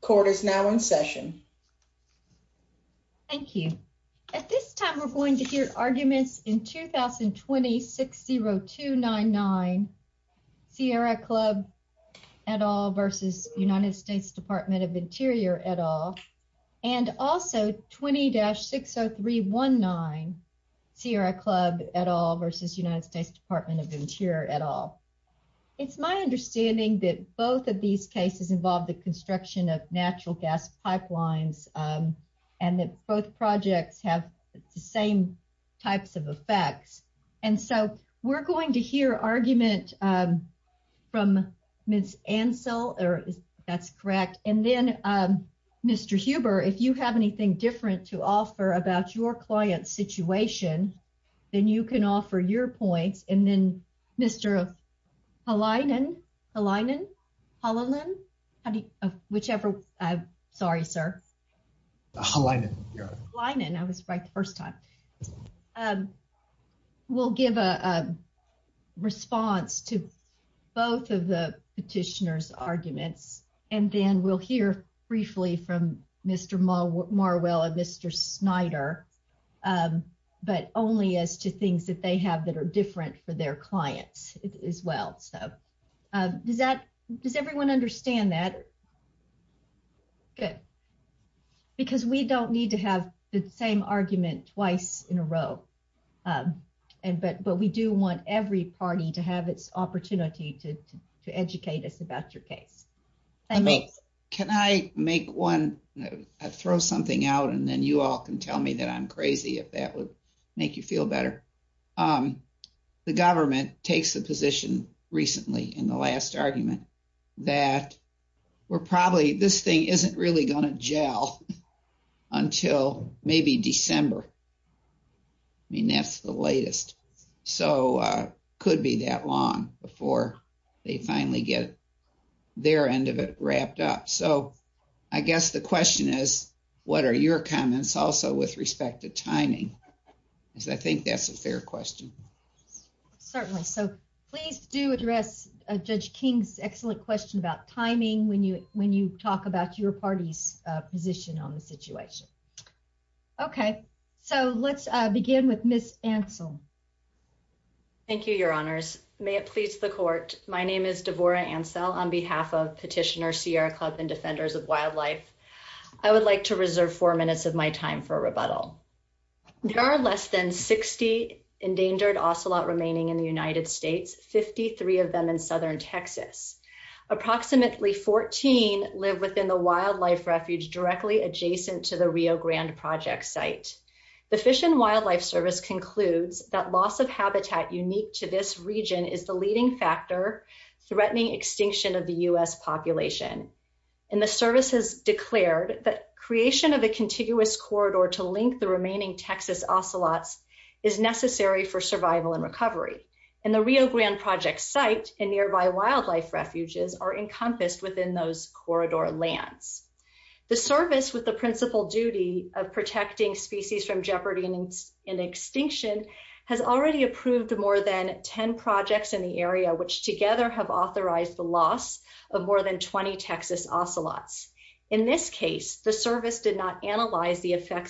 Court is now in session. Thank you. At this time, we're going to hear arguments in 2020-60299, Sierra Club et al. v. United States Department of Interior et al., and also 2020-60319, Sierra Club et al. v. United States Department of Interior et al. It's my understanding that both of these cases involve the construction of natural gas pipelines, and that both projects have the same types of effects. And so, we're going to hear argument from Ms. Ansell, that's correct, and then Mr. Huber, if you have anything different to offer about your client's situation, then you can offer your points, and then Mr. Halinen, we'll give a response to both of the petitioner's arguments, and then we'll hear briefly from Mr. Marwell and Mr. Snyder, but only as to things that they have that are different for their clients as well. So, does everyone understand that? Good. Because we don't need to have the same argument twice in a row, but we do want every party to have its opportunity to educate us about your case. I mean, can I make one, throw something out, and then you all can tell me that I'm crazy, if that would make you feel better. The government takes a position recently in the last argument that we're probably, this thing isn't really going to gel until maybe December. I mean, that's the latest. So, it could be that long before they finally get their end of it wrapped up. So, I guess the question is, what are your comments also with respect to timing, because I think that's a fair question. Certainly. So, please do address Judge King's excellent question about timing when you talk about your party's position on the situation. Okay. So, let's begin with Ms. Ansell. Thank you, Your Honors. May it please the court. My name is Devorah Ansell on behalf of Petitioner Sierra Club and Defenders of Wildlife. I would like to reserve four minutes of my time for a rebuttal. There are less than 60 endangered ocelot remaining in the United States, 53 of them in southern Texas. Approximately 14 live within the wildlife refuge directly adjacent to the Rio Grande Project site. The Fish and Wildlife Service concludes that loss of habitat unique to this region is the leading factor threatening extinction of the U.S. population. And the service has declared that creation of a contiguous corridor to link the remaining Texas ocelots is necessary for survival and recovery. And the Rio Grande Project site and nearby wildlife refuges are encompassed within those corridor lands. The service with the principal duty of protecting species from jeopardy and extinction has already approved more than 10 projects in the area, which together have authorized the loss of more than 20 Texas ocelots. In this case, the service did not analyze the ocelot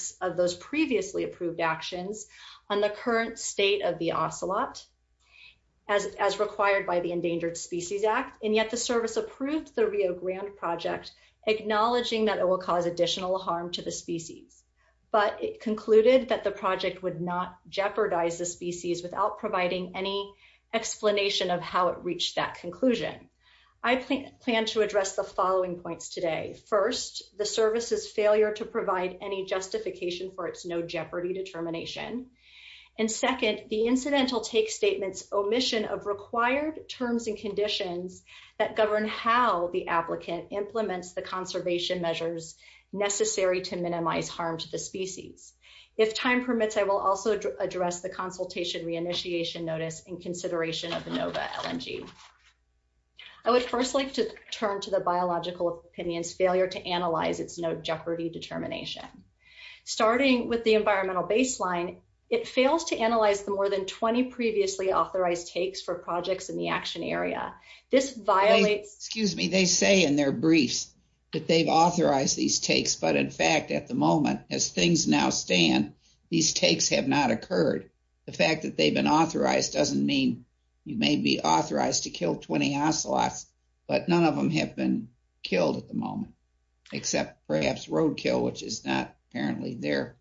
as required by the Endangered Species Act, and yet the service approved the Rio Grande Project, acknowledging that it will cause additional harm to the species. But it concluded that the project would not jeopardize the species without providing any explanation of how it reached that conclusion. I plan to address the following points today. First, the service's failure to provide any take statements, omission of required terms and conditions that govern how the applicant implements the conservation measures necessary to minimize harm to the species. If time permits, I will also address the consultation reinitiation notice in consideration of the NOVA LNG. I would first like to turn to the biological opinion's failure to analyze its no jeopardy determination. Starting with the environmental baseline, it fails to analyze the more than 20 previously authorized takes for projects in the action area. This violates... Excuse me, they say in their briefs that they've authorized these takes, but in fact at the moment as things now stand, these takes have not occurred. The fact that they've been authorized doesn't mean you may be authorized to kill 20 ocelots, but none of them have been killed at the moment, except perhaps roadkill, which is not apparently their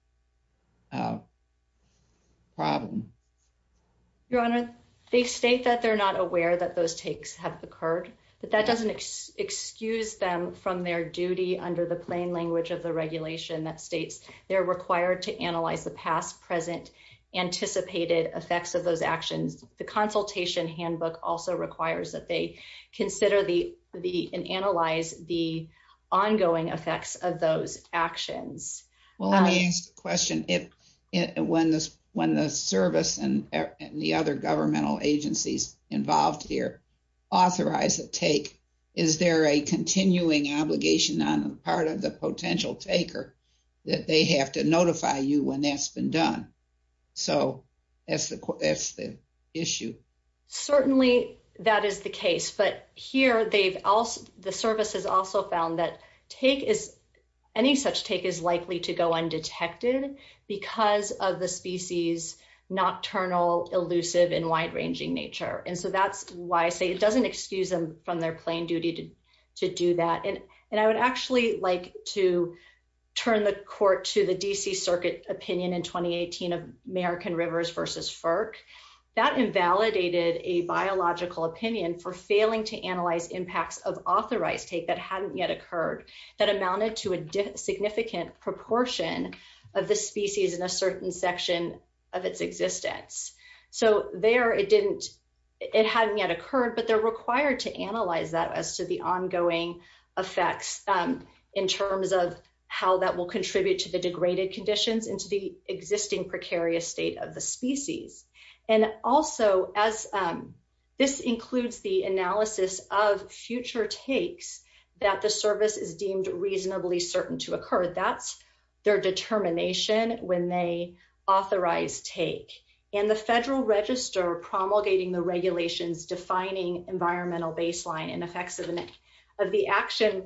problem. Your Honor, they state that they're not aware that those takes have occurred, but that doesn't excuse them from their duty under the plain language of the regulation that states they're required to analyze the past, present, anticipated effects of those actions. The of those actions. Well, let me ask a question. When the service and the other governmental agencies involved here authorize a take, is there a continuing obligation on the part of the potential taker that they have to notify you when that's been done? So that's the issue. Certainly that is the case, but here the service has also found that any such take is likely to go undetected because of the species' nocturnal, elusive, and wide-ranging nature. And so that's why I say it doesn't excuse them from their plain duty to do that. And I would actually like to in 2018 of American Rivers versus FERC, that invalidated a biological opinion for failing to analyze impacts of authorized take that hadn't yet occurred, that amounted to a significant proportion of the species in a certain section of its existence. So there it hadn't yet occurred, but they're required to analyze that as to the ongoing effects in terms of how that will contribute to the degraded conditions and to the existing precarious state of the species. And also, this includes the analysis of future takes that the service is deemed reasonably certain to occur. That's their determination when they authorize take. And the federal register promulgating the regulations defining environmental baseline and effects of the action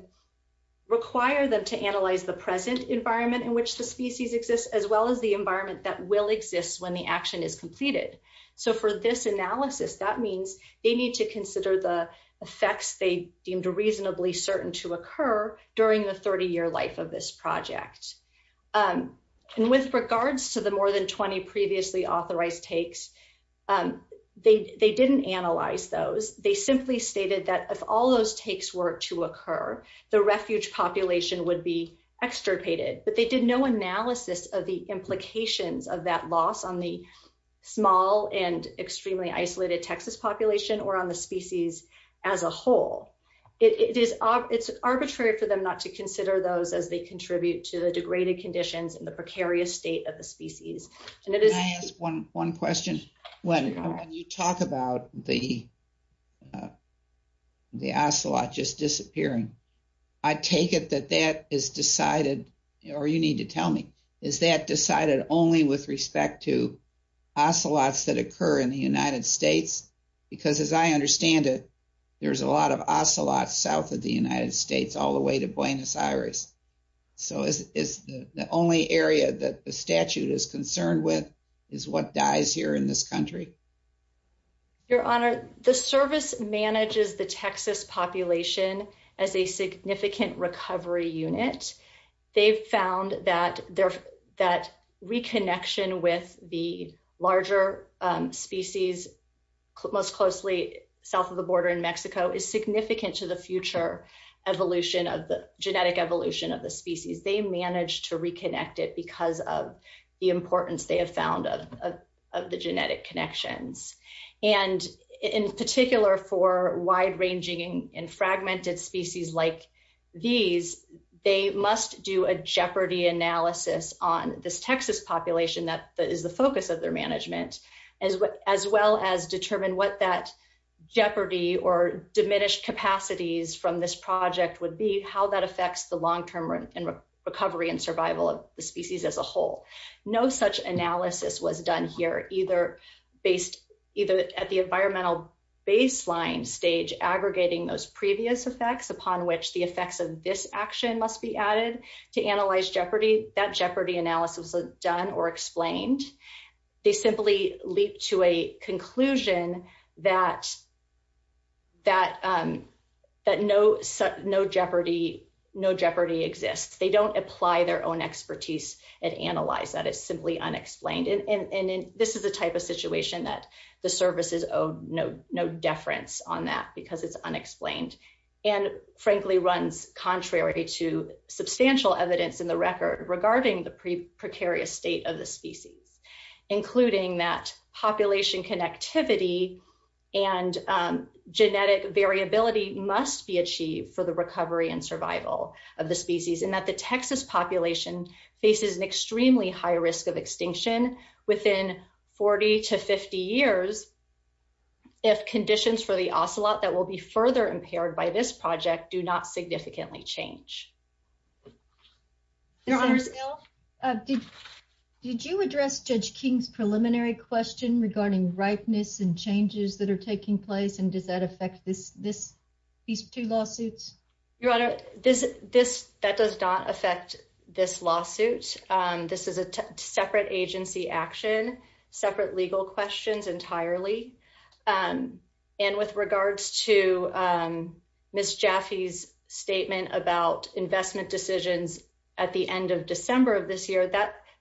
require them to analyze the present environment in which the species exists, as well as the environment that will exist when the action is completed. So for this analysis, that means they need to consider the effects they deemed reasonably certain to occur during the 30-year life of this project. And with regards to the more than 20 previously authorized takes, they didn't analyze those. They simply stated that if all those takes were to occur, the refuge population would be extirpated. But they did no analysis of the implications of that loss on the small and extremely isolated Texas population or on the species as a whole. It's arbitrary for them not to consider those as they contribute to the degraded conditions and the precarious state of the species. And it is... Can I ask one question? When you talk about the I take it that that is decided, or you need to tell me, is that decided only with respect to ocelots that occur in the United States? Because as I understand it, there's a lot of ocelots south of the United States all the way to Buenos Aires. So is the only area that the statute is concerned with is what dies here in this country? Your Honor, the service manages the Texas population as a significant recovery unit. They've found that reconnection with the larger species most closely south of the border in Mexico is significant to the future evolution of the genetic evolution of the species. They managed to reconnect it because of the importance they have found of the genetic connections. And in particular for wide-ranging and fragmented species like these, they must do a jeopardy analysis on this Texas population that is the focus of their management, as well as determine what that jeopardy or diminished capacities from this project would be, how that affects the long-term recovery and survival of the species as a whole. No such analysis was done here, either at the environmental baseline stage aggregating those previous effects upon which the effects of this action must be added to analyze jeopardy. That jeopardy analysis was done or explained. They simply leap to a and analyze that. It's simply unexplained. And this is the type of situation that the services owe no deference on that because it's unexplained and frankly runs contrary to substantial evidence in the record regarding the precarious state of the species, including that population connectivity and genetic variability must be achieved for the an extremely high risk of extinction within 40 to 50 years if conditions for the ocelot that will be further impaired by this project do not significantly change. Your Honor, did you address Judge King's preliminary question regarding ripeness and changes that are taking place? And does that affect these two lawsuits? Your Honor, that does not affect this lawsuit. This is a separate agency action, separate legal questions entirely. And with regards to Ms. Jaffe's statement about investment decisions at the end of December of this year,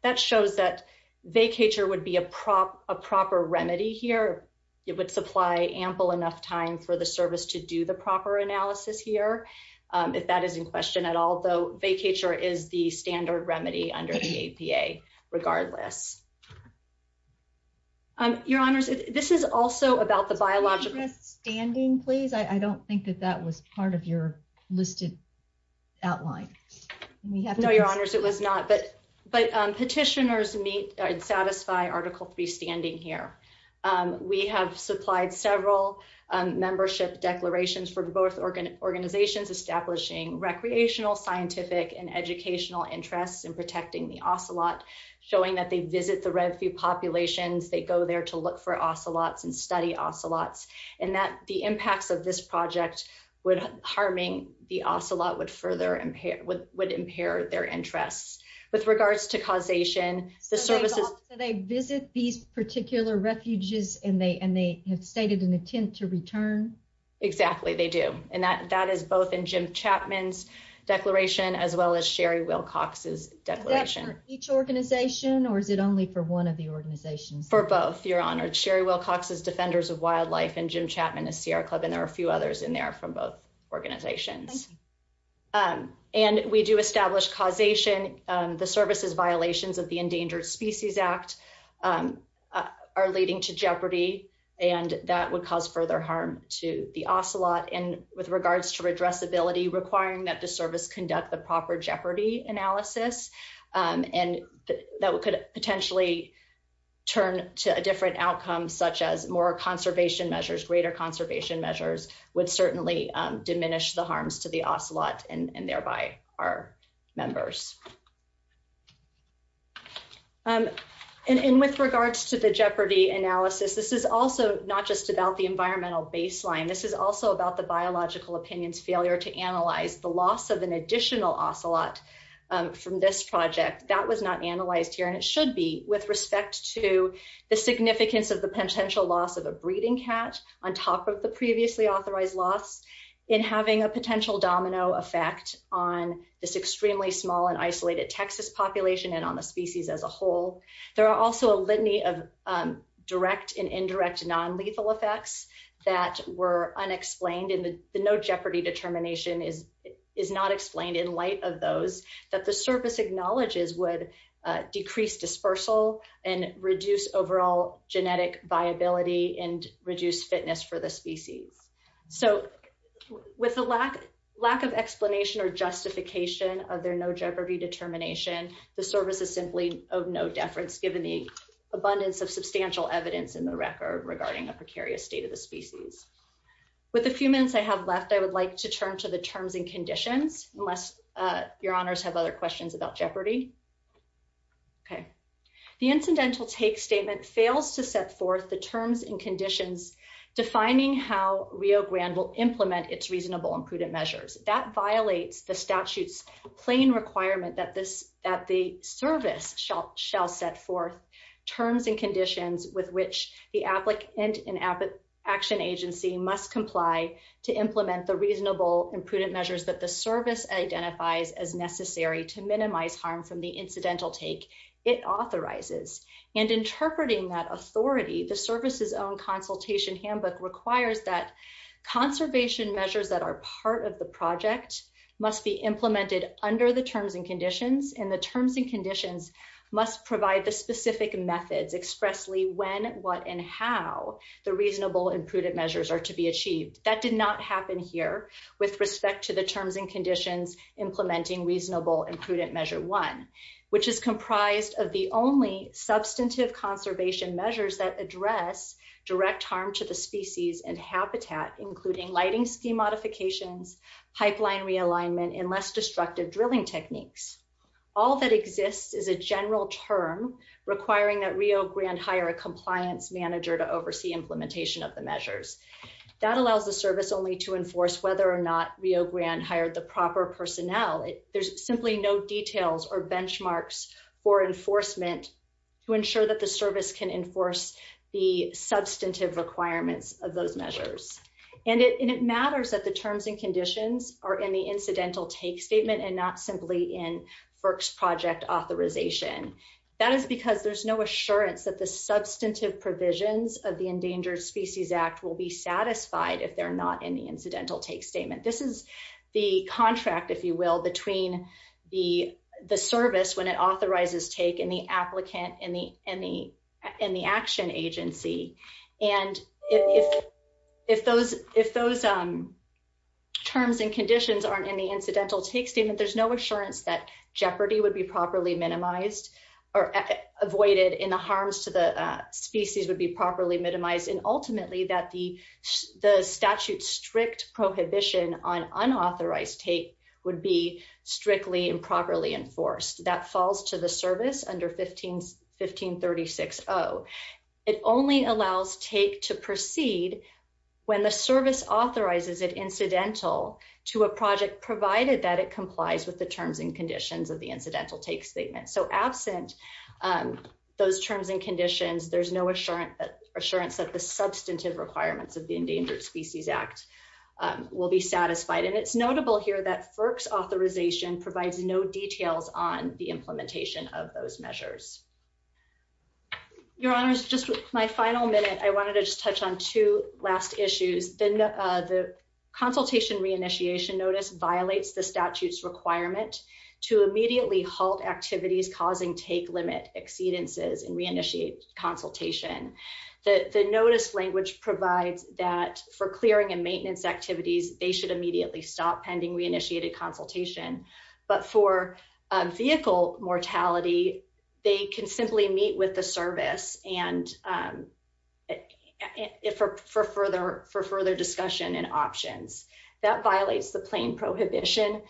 that shows that vacatur would be a proper remedy here. It would supply ample enough time for the service to do the proper analysis here. If that is in question at all, though, vacatur is the standard remedy under the APA regardless. Your Honors, this is also about the biological standing, please. I don't think that that was part of your listed outline. No, Your Honors, it was not. But petitioners meet and satisfy standing here. We have supplied several membership declarations for both organizations establishing recreational, scientific, and educational interests in protecting the ocelot, showing that they visit the red few populations, they go there to look for ocelots and study ocelots, and that the impacts of this project harming the ocelot would impair their interests. With regards to causation, the services... So they visit these particular refuges, and they have stated an intent to return? Exactly, they do. And that is both in Jim Chapman's declaration, as well as Sherry Wilcox's declaration. Is that for each organization, or is it only for one of the organizations? For both, Your Honors. Sherry Wilcox is Defenders of Wildlife, and Jim Chapman is Sierra Club, and there are a few others in there from both organizations. And we do establish causation. The services violations of the Endangered Species Act are leading to jeopardy, and that would cause further harm to the ocelot. And with regards to redressability, requiring that the service conduct the proper jeopardy analysis, and that could potentially turn to a different outcome, such as more conservation measures, greater the harms to the ocelot, and thereby our members. And with regards to the jeopardy analysis, this is also not just about the environmental baseline. This is also about the biological opinion's failure to analyze the loss of an additional ocelot from this project. That was not analyzed here, and it should be with respect to the significance of the potential loss of a breeding cat on top of the previously authorized loss in having a potential domino effect on this extremely small and isolated Texas population, and on the species as a whole. There are also a litany of direct and indirect non-lethal effects that were unexplained, and the no jeopardy determination is not explained in light of those that the service acknowledges would decrease dispersal and reduce overall genetic viability and reduce fitness for the species. So with the lack of explanation or justification of their no jeopardy determination, the service is simply of no deference given the abundance of substantial evidence in the record regarding a precarious state of the species. With the few minutes I have left, I would like to turn to the terms and conditions defining how Rio Grande will implement its reasonable and prudent measures. That violates the statute's plain requirement that the service shall set forth terms and conditions with which the applicant and action agency must comply to implement the reasonable and prudent measures that the service identifies as necessary to minimize harm from the incidental take it authorizes. And interpreting that authority, the service's own consultation handbook requires that conservation measures that are part of the project must be implemented under the terms and conditions, and the terms and conditions must provide the specific methods expressly when, what, and how the reasonable and prudent measures are to be achieved. That did not happen here with respect to the terms and conditions implementing reasonable and prudent measure one, which is comprised of the only substantive conservation measures that address direct harm to the species and habitat, including lighting scheme modifications, pipeline realignment, and less destructive drilling techniques. All that exists is a general term requiring that Rio Grande hire a compliance manager to oversee implementation of the measures. That allows the service only to enforce whether or not Rio Grande hired the proper personnel. There's simply no details or benchmarks for enforcement to ensure that the service can enforce the substantive requirements of those measures. And it matters that the terms and conditions are in the incidental take statement and not simply in FERC's project authorization. That is because there's no assurance that the substantive provisions of the Endangered Species Act will be satisfied if they're not in incidental take statement. This is the contract, if you will, between the service when it authorizes take and the applicant and the action agency. And if those terms and conditions aren't in the incidental take statement, there's no assurance that jeopardy would be properly minimized or avoided and the harms to the species would be properly minimized. And ultimately, that the statute's strict prohibition on unauthorized take would be strictly and properly enforced. That falls to the service under 1536-0. It only allows take to proceed when the service authorizes it incidental to a project provided that it complies with the terms and conditions of the incidental take statement. So absent those terms and conditions, there's no assurance that the substantive requirements of the Endangered Species Act will be satisfied. And it's notable here that FERC's authorization provides no details on the implementation of those measures. Your honors, just with my final minute, I wanted to just touch on two last issues. Then the consultation reinitiation notice violates the statute's requirement to immediately halt activities causing take limit exceedances and re-initiate consultation. The notice language provides that for clearing and maintenance activities, they should immediately stop pending re-initiated consultation. But for vehicle mortality, they can simply meet with the service and for further discussion and options. That violates the plain prohibition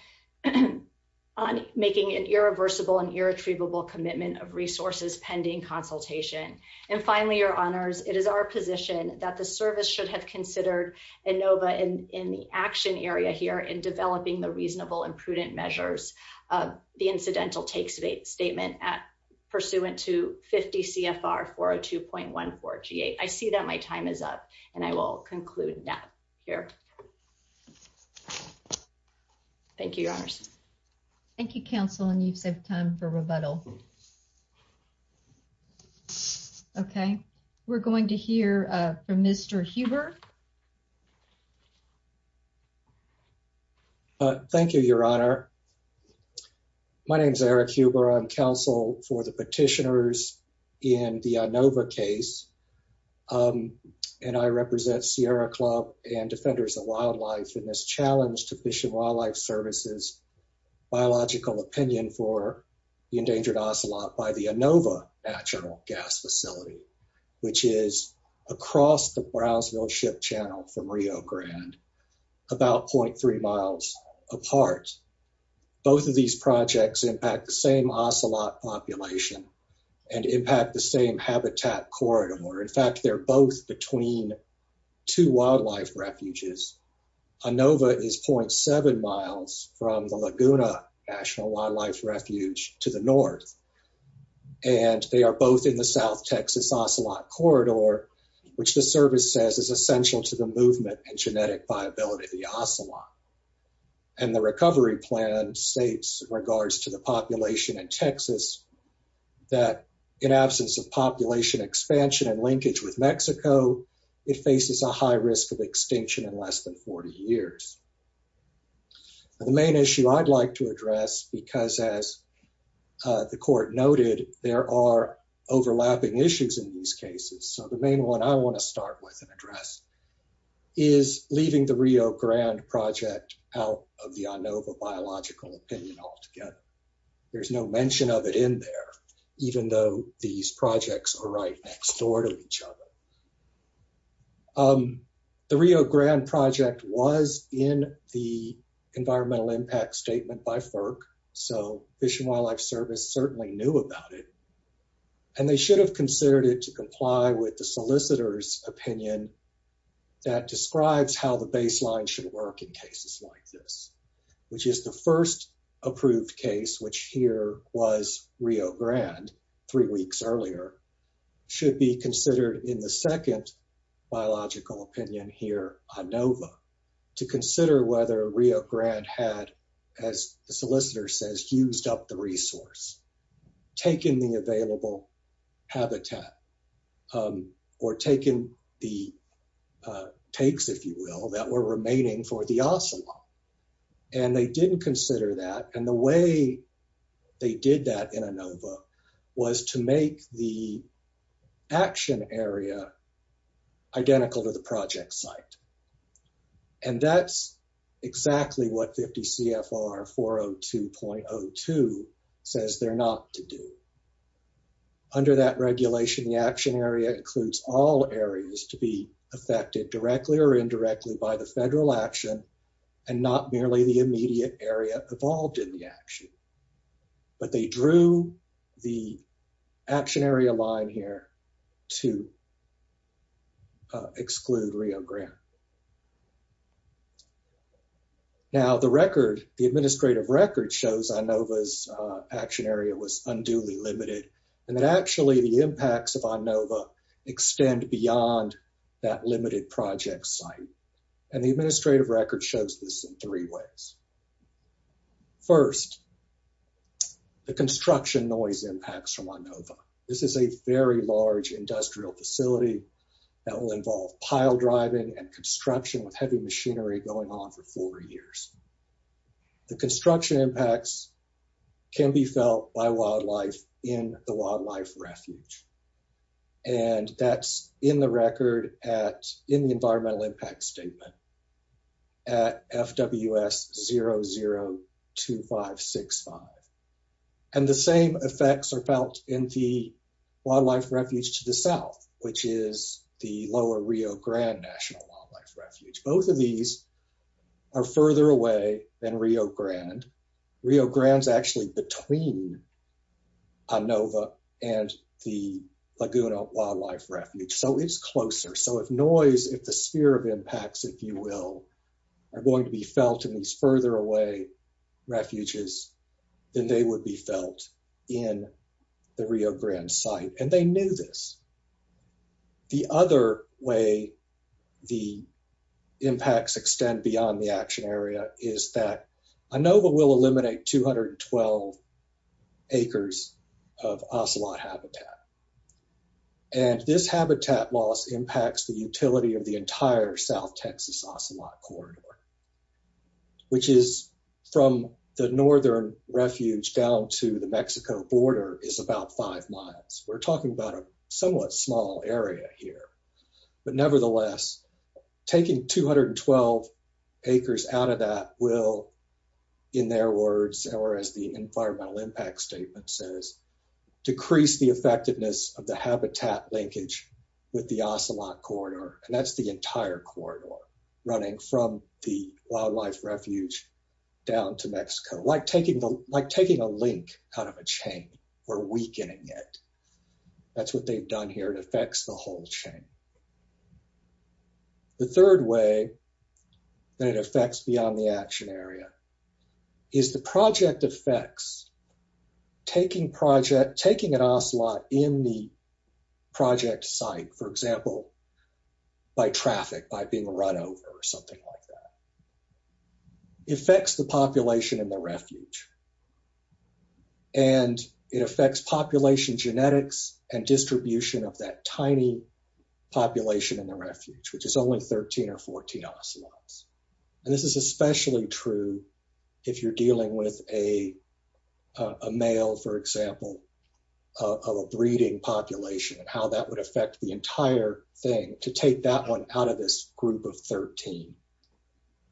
on making an irreversible and irretrievable commitment of resources pending consultation. And finally, your honors, it is our position that the service should have considered ANOVA in the action area here in developing the reasonable and prudent measures of the incidental take statement pursuant to 50 CFR 402.14G8. I see that my time is up and I will conclude that here. Thank you, your honors. Thank you, counsel. And you've saved time for rebuttal. Okay, we're going to hear from Mr. Huber. Thank you, your honor. My name is Eric Huber. I'm counsel for the petitioners in the ANOVA case. And I represent Sierra Club and Defenders of Wildlife in this challenge to Fish and Wildlife Services biological opinion for the endangered ocelot by the ANOVA natural gas facility, which is across the Brownsville ship channel from Rio Grande, about 0.3 miles apart. Both of these projects impact the same ocelot population and impact the same habitat corridor. In fact, they're both between two wildlife refuges. ANOVA is 0.7 miles from the Laguna National Wildlife Refuge to the north. And they are both in the South Texas ocelot corridor, which the service says is essential to the movement and genetic viability of the ocelot. And the recovery plan states in regards to the population in Texas, that in absence of population expansion and linkage with Mexico, it faces a high risk of extinction in less than 40 years. The main issue I'd like to address, because as the court noted, there are overlapping issues in these cases. So the main one I want to start with and address is leaving the Rio Grande project out of the ANOVA biological opinion altogether. There's no mention of it in there, even though these projects are right next door to each other. The Rio Grande project was in the environmental impact statement by FERC. So Fish and Wildlife Service certainly knew about it. And they should have considered it to comply with the solicitor's opinion that describes how the baseline should work in cases like this, which is the first approved case, which here was Rio Grande three weeks earlier, should be considered in the second biological opinion here, ANOVA, to consider whether Rio Grande had, as the solicitor says, fused up the resource, taken the available habitat, or taken the takes, if you will, that were remaining for the ocelot. And they didn't consider that. And the way they did that in ANOVA was to make the action area identical to the project site. And that's exactly what 50 CFR 402.02 says they're not to do. Under that regulation, the action area includes all areas to be affected directly or indirectly by the federal action and not merely the immediate area involved in the action. But they drew the action area line here to exclude Rio Grande. Now the record, the administrative record shows ANOVA's action area was unduly limited. And that actually the impacts of ANOVA extend beyond that limited project site. And the administrative record shows this in three ways. First, the construction noise impacts from ANOVA. This is a very large industrial facility that will involve pile driving and construction with heavy machinery going on for four years. The construction impacts can be felt by wildlife in the wildlife refuge. And that's in the record at in the environmental impact statement at FWS 002565. And the same effects are felt in the wildlife refuge to the south, which is the lower Rio Grande National Wildlife Refuge. Both of these are further away than Rio Grande. Rio Grande is actually between ANOVA and the Laguna Wildlife Refuge. So it's closer. So if noise, if the sphere of impacts, if you will, are going to be felt in these further away refuges, then they would be felt in the Rio Grande site. And they knew this. The other way the impacts extend beyond the action area is that ANOVA will eliminate 212 acres of ocelot habitat. And this habitat loss impacts the utility of the entire south Texas ocelot corridor, which is from the northern refuge down to the Mexico border is about five miles. We're talking about a somewhat small area here. But nevertheless, taking 212 acres out of that will, in their words, or as the environmental impact statement says, decrease the effectiveness of the habitat linkage with the ocelot corridor. And that's the entire corridor running from the wildlife refuge down to Mexico, like taking a link kind of a chain or weakening it. That's what they've done here. It affects the whole chain. The third way that it affects beyond the action area is the project affects taking project, taking an ocelot in the project site, for example, by traffic, by being run over or something like that. It affects the population in the refuge. And it affects population genetics and distribution of that tiny population in the refuge, which is only 13 or 14 ocelots. And this is especially true if you're dealing with a male, for example, of a breeding population and how that would affect the entire thing to take that one out of this group of 13,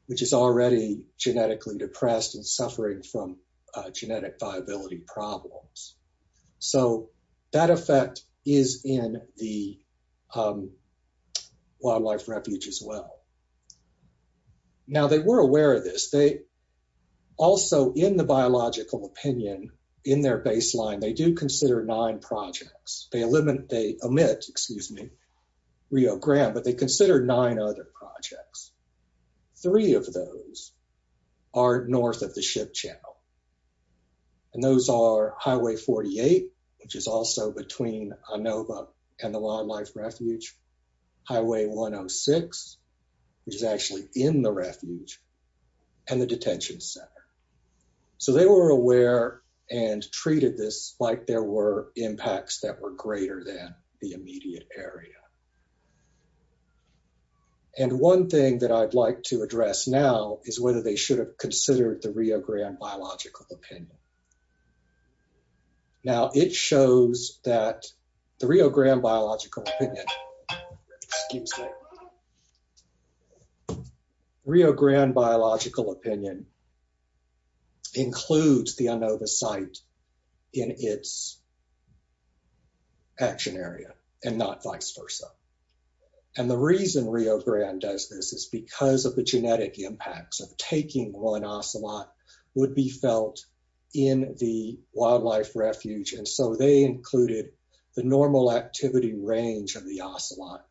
which is already genetically depressed and suffering from genetic viability problems. So that effect is in the wildlife refuge as well. Now, they were aware of this. They also, in the biological opinion, in their baseline, they do consider nine projects. They limit, they omit, excuse me, Rio Grande, but they consider nine other projects. Three of those are north of the ship channel. And those are Highway 48, which is also between Inova and the wildlife refuge, Highway 106, which is actually in the refuge, and the detention center. So they were aware and treated this like there were impacts that were greater than the immediate area. And one thing that I'd like to address now is whether they should have considered the Rio Grande biological opinion. Now, it shows that the Rio Grande biological opinion, excuse me, Rio Grande biological opinion includes the Inova site in its action area and not vice versa. And the reason Rio Grande does this is because of the genetic impacts of taking one ocelot would be felt in the wildlife refuge. And so they included the normal activity range of the ocelot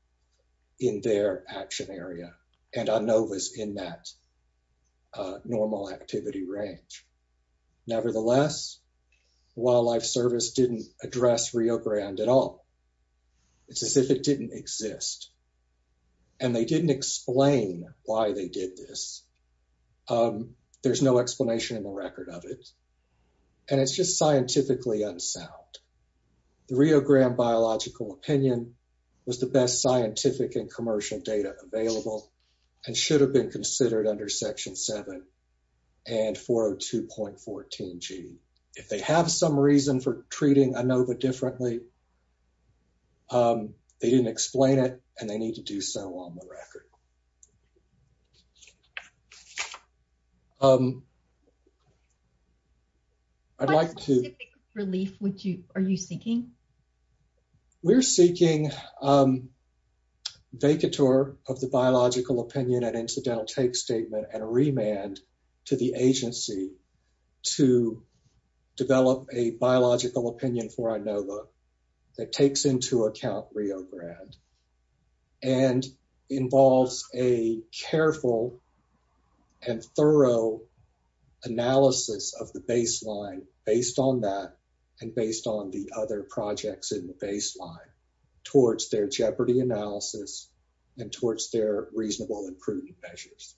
in their action area and Inovas in that normal activity range. Nevertheless, wildlife service didn't address Rio Grande at all. It's as if it didn't exist. And they didn't explain why they did this. There's no explanation in the record of it. And it's just scientifically unsound. The Rio Grande biological opinion was the best scientific and commercial data available and should have been considered under Section 7 and 402.14g. If they have some reason for treating Inova differently, they didn't explain it and they need to do so on the record. I'd like to... What specific relief are you seeking? We're seeking vacatur of the biological opinion and incidental take statement and a remand to the agency to develop a biological opinion for Inova that takes into account Rio Grande and involves a careful and thorough analysis of the baseline based on that and based on the other projects in the baseline towards their jeopardy analysis and towards their reasonable and prudent measures.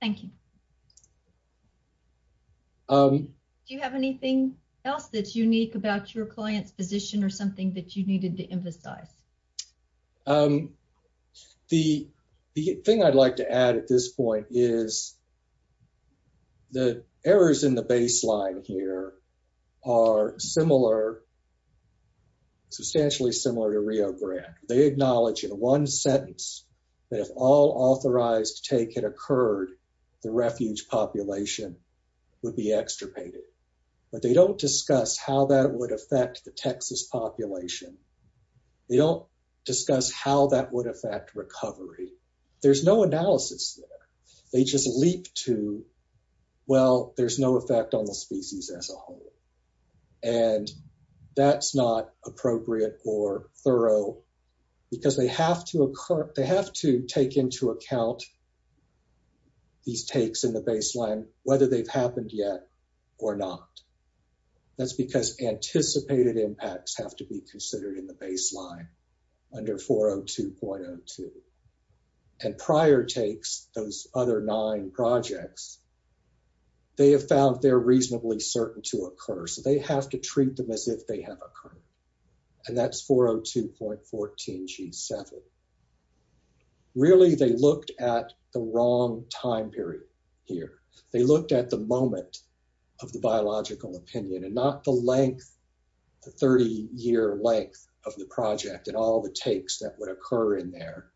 Thank you. Do you have anything else that's unique about your client's position or something that you needed to emphasize? The thing I'd like to add at this point is the errors in the baseline here are substantially similar to Rio Grande. They acknowledge in one sentence that if all authorized take had occurred, the refuge population would be extirpated. But they don't discuss how that would affect the Texas population. They don't discuss how that would affect recovery. There's no analysis there. They just leap to, well, there's no effect on the species as a whole. And that's not appropriate or thorough because they have to take into account these takes in the baseline, whether they've happened yet or not. That's because anticipated impacts have to be considered in the baseline under 402.02. And prior takes, those other nine projects, they have found they're reasonably certain to occur. So they have to treat them as if they have occurred. And that's 402.14 G7. Really, they looked at the wrong time period here. They looked at the moment of the biological opinion and not the length, the 30-year length of the project and all the takes that would occur in there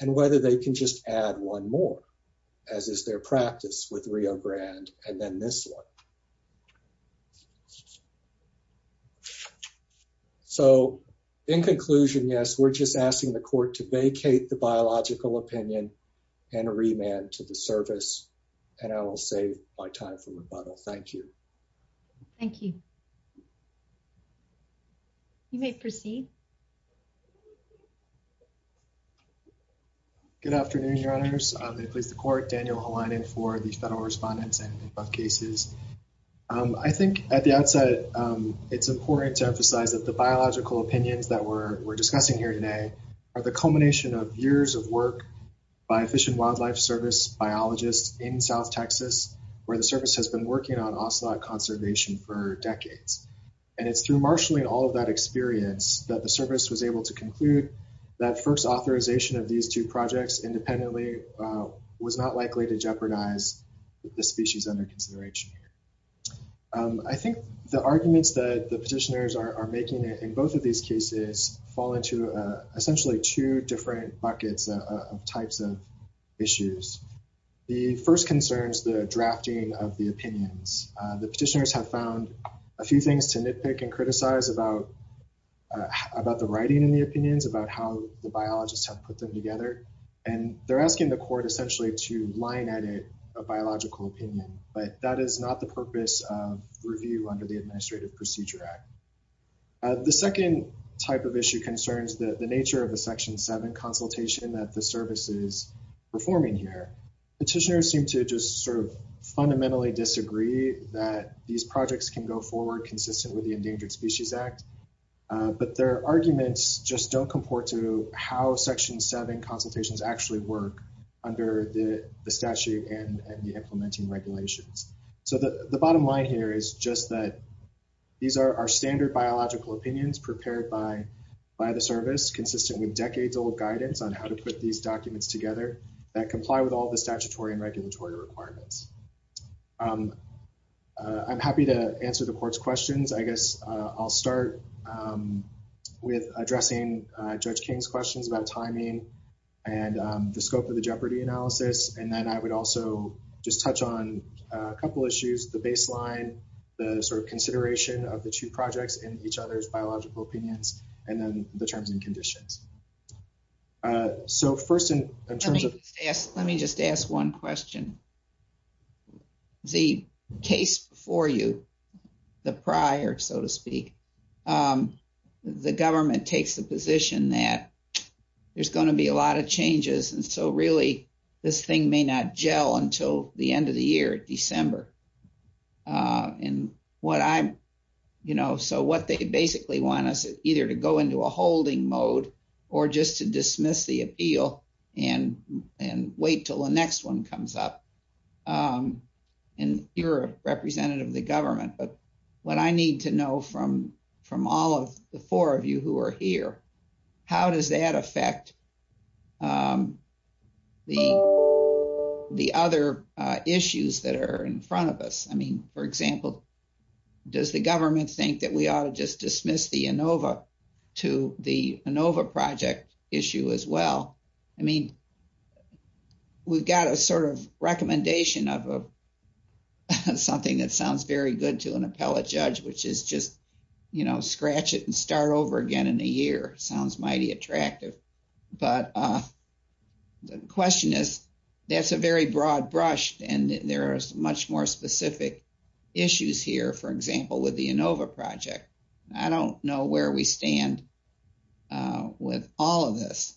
and whether they can just add one more, as is their practice with Rio Grande and then this one. So in conclusion, yes, we're just asking the court to vacate the biological opinion and remand to the service. And I will save my time for rebuttal. Thank you. Thank you. You may proceed. Good afternoon, your honors. I'm the police, the court, Daniel Halani for the federal respondents and above cases. I think at the outset, it's important to emphasize that the biological opinions that we're discussing here today are the culmination of years of work by Fish and Conservation for decades. And it's through marshaling all of that experience that the service was able to conclude that first authorization of these two projects independently was not likely to jeopardize the species under consideration here. I think the arguments that the petitioners are making in both of these cases fall into essentially two different buckets of types of issues. The first concerns the drafting of the petition. Petitioners have found a few things to nitpick and criticize about the writing in the opinions, about how the biologists have put them together. And they're asking the court essentially to line edit a biological opinion, but that is not the purpose of review under the Administrative Procedure Act. The second type of issue concerns the nature of the Section 7 consultation that the service is performing here. Petitioners seem to just sort of fundamentally disagree that these projects can go forward consistent with the Endangered Species Act, but their arguments just don't comport to how Section 7 consultations actually work under the statute and the implementing regulations. So the bottom line here is just that these are our standard biological opinions prepared by the service consistent with decades-old guidance on how to put these documents together that comply with all the statutory and regulatory requirements. I'm happy to answer the court's questions. I guess I'll start with addressing Judge King's questions about timing and the scope of the jeopardy analysis. And then I would also just touch on a couple issues, the baseline, the sort of consideration of the two projects in each other's biological opinions, and then the terms and conditions. So first in terms of... Let me just ask one question. The case before you, the prior, so to speak, the government takes the position that there's going to be a lot of changes, and so really this thing may not gel until the end of the year, December. So what they basically want us either to go into a holding mode or just to dismiss the appeal and wait till the next one comes up. And you're a representative of the government, but what I need to know from all of the four of you who are here, how does that affect the other issues that are in front of us? I mean, for example, does the government think that we ought to just dismiss the ANOVA to the ANOVA project issue as well? I mean, we've got a sort of recommendation of something that sounds very good to an appellate judge, which is just, you know, scratch it and start over again in a year. Sounds mighty attractive. But the question is, that's a very broad brush, and there are much more specific issues here, for example, with the ANOVA project. I don't know where we stand with all of this.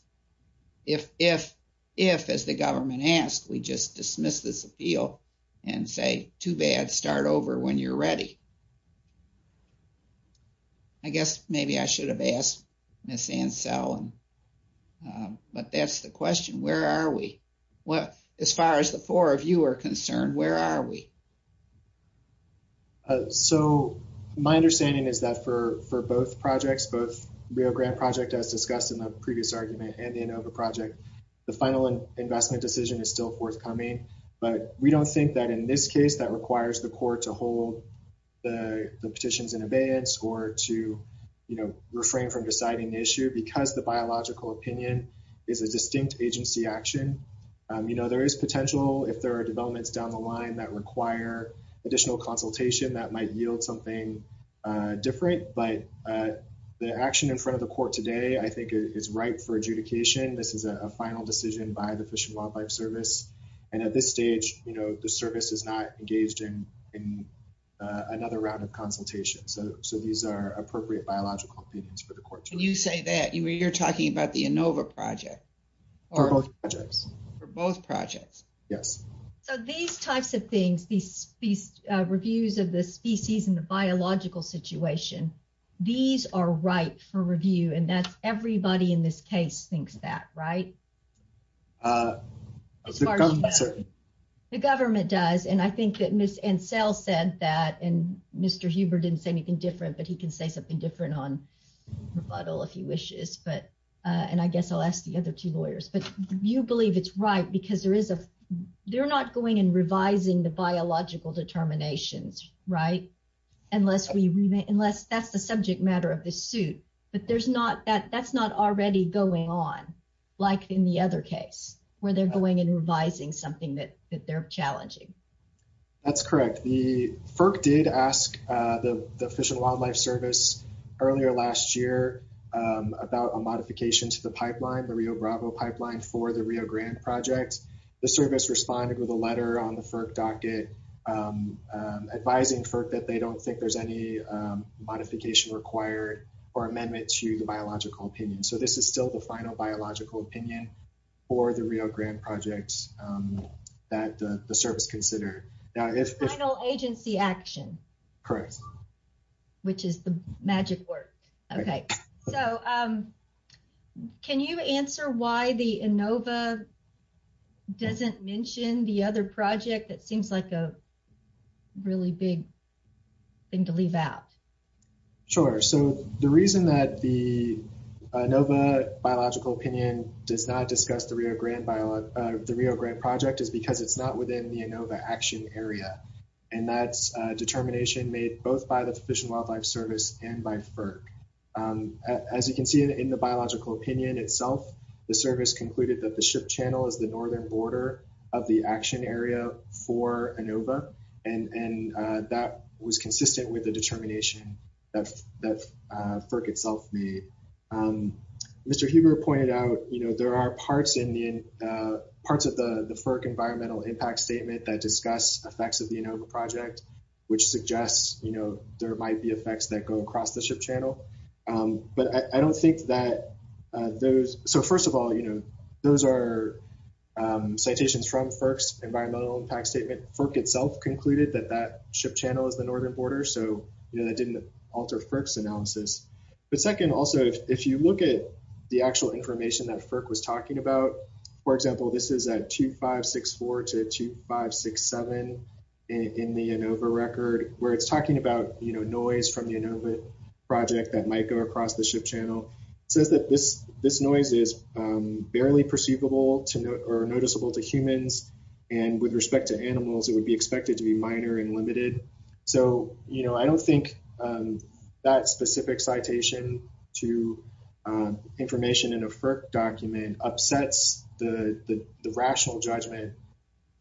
If, as the government asks, we just dismiss this appeal and say, too bad, start over when you're I guess maybe I should have asked Ms. Ansel, but that's the question. Where are we? As far as the four of you are concerned, where are we? So, my understanding is that for both projects, both Rio Grant Project, as discussed in the previous argument, and the ANOVA project, the final investment decision is still forthcoming. But we don't think that in this case that requires the court to hold the petitions in or to, you know, refrain from deciding the issue because the biological opinion is a distinct agency action. You know, there is potential if there are developments down the line that require additional consultation that might yield something different. But the action in front of the court today, I think, is right for adjudication. This is a final decision by the Fish and Wildlife Service. And at this stage, you know, the service is not engaged in another round of consultation. So, these are appropriate biological opinions for the court. When you say that, you're talking about the ANOVA project. For both projects. For both projects. Yes. So, these types of things, these reviews of the species and the biological situation, these are right for review. And that's everybody in this case thinks that, right? As far as the government. The government does. And I think that Ms. Ansell said that, and Mr. Huber didn't say anything different, but he can say something different on rebuttal if he wishes. But, and I guess I'll ask the other two lawyers. But you believe it's right because there is a, they're not going and revising the biological determinations, right? Unless we, unless that's the subject matter of this suit. But there's not that, that's not already going on like in the other case where they're going and revising something that they're challenging. That's correct. The FERC did ask the Fish and Wildlife Service earlier last year about a modification to the pipeline, the Rio Bravo pipeline for the Rio Grande project. The service responded with a letter on the FERC docket advising FERC that they don't think there's any modification required or amendment to the biological opinion. So, this is still the final biological opinion for the Rio Grande projects that the service considered. Final agency action. Correct. Which is the magic word. Okay. So, can you answer why the ANOVA doesn't mention the other project that seems like a really big thing to leave out? Sure. So, the reason that the ANOVA biological opinion does not discuss the Rio Grande project is because it's not within the ANOVA action area. And that's a determination made both by the Fish and Wildlife Service and by FERC. As you can see in the biological opinion itself, the service concluded that the ship channel is the northern border of the action area for ANOVA. And that was consistent with the determination that FERC itself made. Mr. Huber pointed out there are parts of the FERC environmental impact statement that discuss effects of the ANOVA project, which suggests there might be effects that go across the ship channel. But I don't think that those – so, first of all, those are citations from FERC's environmental impact statement. FERC itself concluded that that ship channel is the northern border. So, you know, that didn't alter FERC's analysis. But second, also, if you look at the actual information that FERC was talking about, for example, this is at 2564 to 2567 in the ANOVA record where it's talking about, you know, noise from the ANOVA project that might go across the ship channel. It says that this noise is barely perceivable or noticeable to humans. And with respect to animals, it would be expected to be minor and limited. So, you know, I don't think that specific citation to information in a FERC document upsets the rational judgment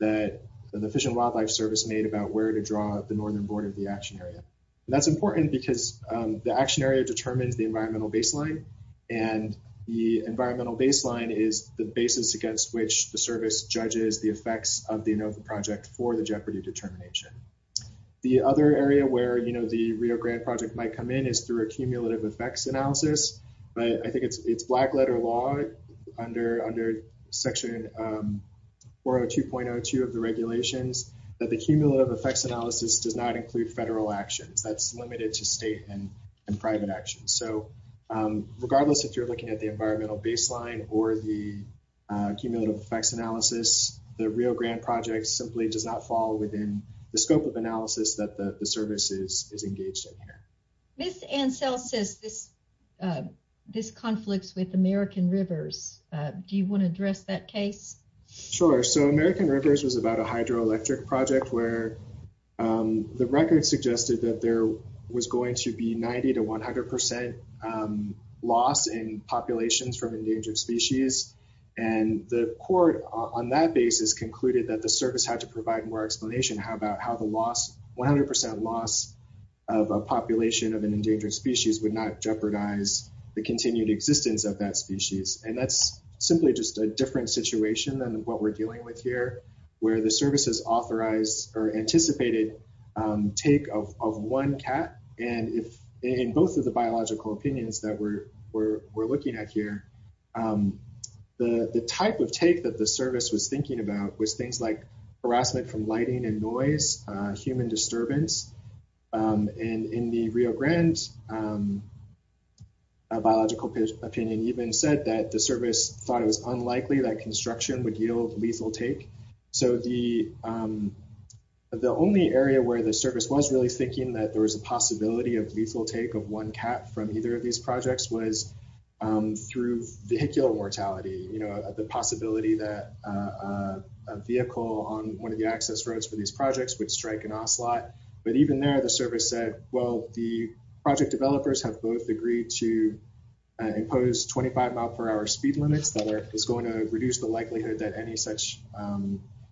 that the Fish and Wildlife Service made about where to draw the northern border of the action area. And that's important because the action area determines the environmental baseline. And the environmental baseline is the basis against which the service judges the effects of the ANOVA project for the jeopardy determination. The other area where, you know, the Rio Grande project might come in is through a cumulative effects analysis. But I think it's black letter law under Section 402.02 of the regulations that the cumulative effects analysis does not include federal actions. That's limited to state and private actions. So, regardless if you're looking at the environmental baseline or the cumulative effects analysis, the Rio Grande project simply does not fall within the scope of analysis that the service is engaged in here. Ms. Ansel says this conflicts with American Rivers. Do you want to address that case? Sure. So, American Rivers was about a hydroelectric project where the record suggested that there was going to be 90 to 100 percent loss in populations from endangered species. And the court on that basis concluded that the service had to provide more endangered species would not jeopardize the continued existence of that species. And that's simply just a different situation than what we're dealing with here, where the service has authorized or anticipated take of one cat. And if in both of the biological opinions that we're looking at here, the type of take that the service was thinking about was things like Rio Grande, a biological opinion even said that the service thought it was unlikely that construction would yield lethal take. So, the only area where the service was really thinking that there was a possibility of lethal take of one cat from either of these projects was through vehicular mortality, the possibility that a vehicle on one of the access roads for these projects would strike an ocelot. But even there, the service said, well, the project developers have both agreed to impose 25 mile per hour speed limits that is going to reduce the likelihood that any such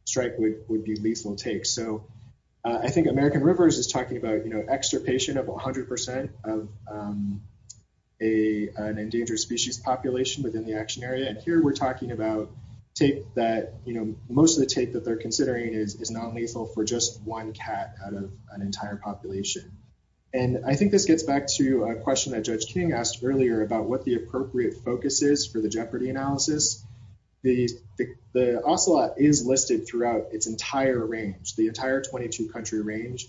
strike would be lethal take. So, I think American Rivers is talking about, you know, extirpation of 100 percent of an endangered species population within the action area. And here we're talking about that, you know, most of the take that they're considering is non-lethal for just one cat out of an entire population. And I think this gets back to a question that Judge King asked earlier about what the appropriate focus is for the jeopardy analysis. The ocelot is listed throughout its entire range, the entire 22 country range.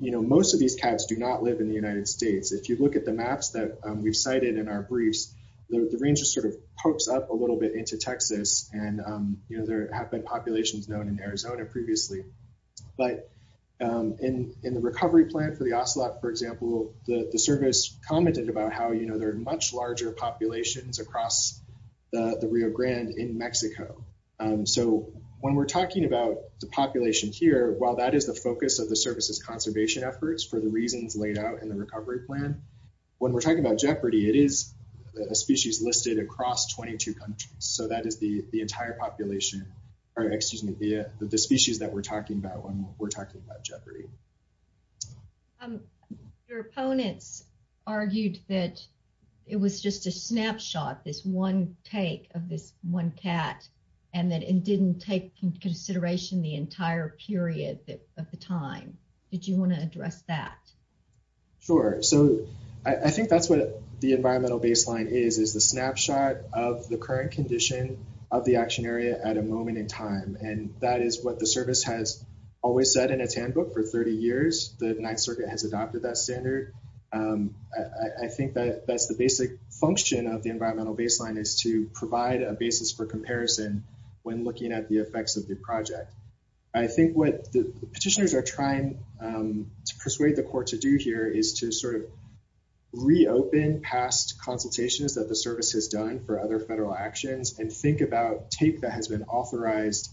You know, most of these cats do not live in the United States. If you look at the maps that we've cited in our briefs, the range just sort of pokes up a little bit into Texas. And, you know, there have been populations known in Arizona previously. But in the recovery plan for the ocelot, for example, the service commented about how, you know, there are much larger populations across the Rio Grande in Mexico. So, when we're talking about the population here, while that is the focus of the service's conservation efforts for the reasons laid out in the recovery plan, when we're talking about jeopardy, it is a species listed across 22 countries. So, that is the entire population, or excuse me, the species that we're talking about when we're talking about jeopardy. Your opponents argued that it was just a snapshot, this one take of this one cat, and that it didn't take into consideration the entire period of the time. Did you want to address that? Sure. So, I think that's what the environmental baseline is, is the snapshot of the current condition of the action area at a moment in time. And that is what the service has always said in its handbook for 30 years, the Ninth Circuit has adopted that standard. I think that that's the basic function of the environmental baseline is to provide a basis for comparison when looking at the effects of the project. I think what the petitioners are trying to persuade the court to do here is to sort of reopen past consultations that the service has done for other federal actions and think about tape that has been authorized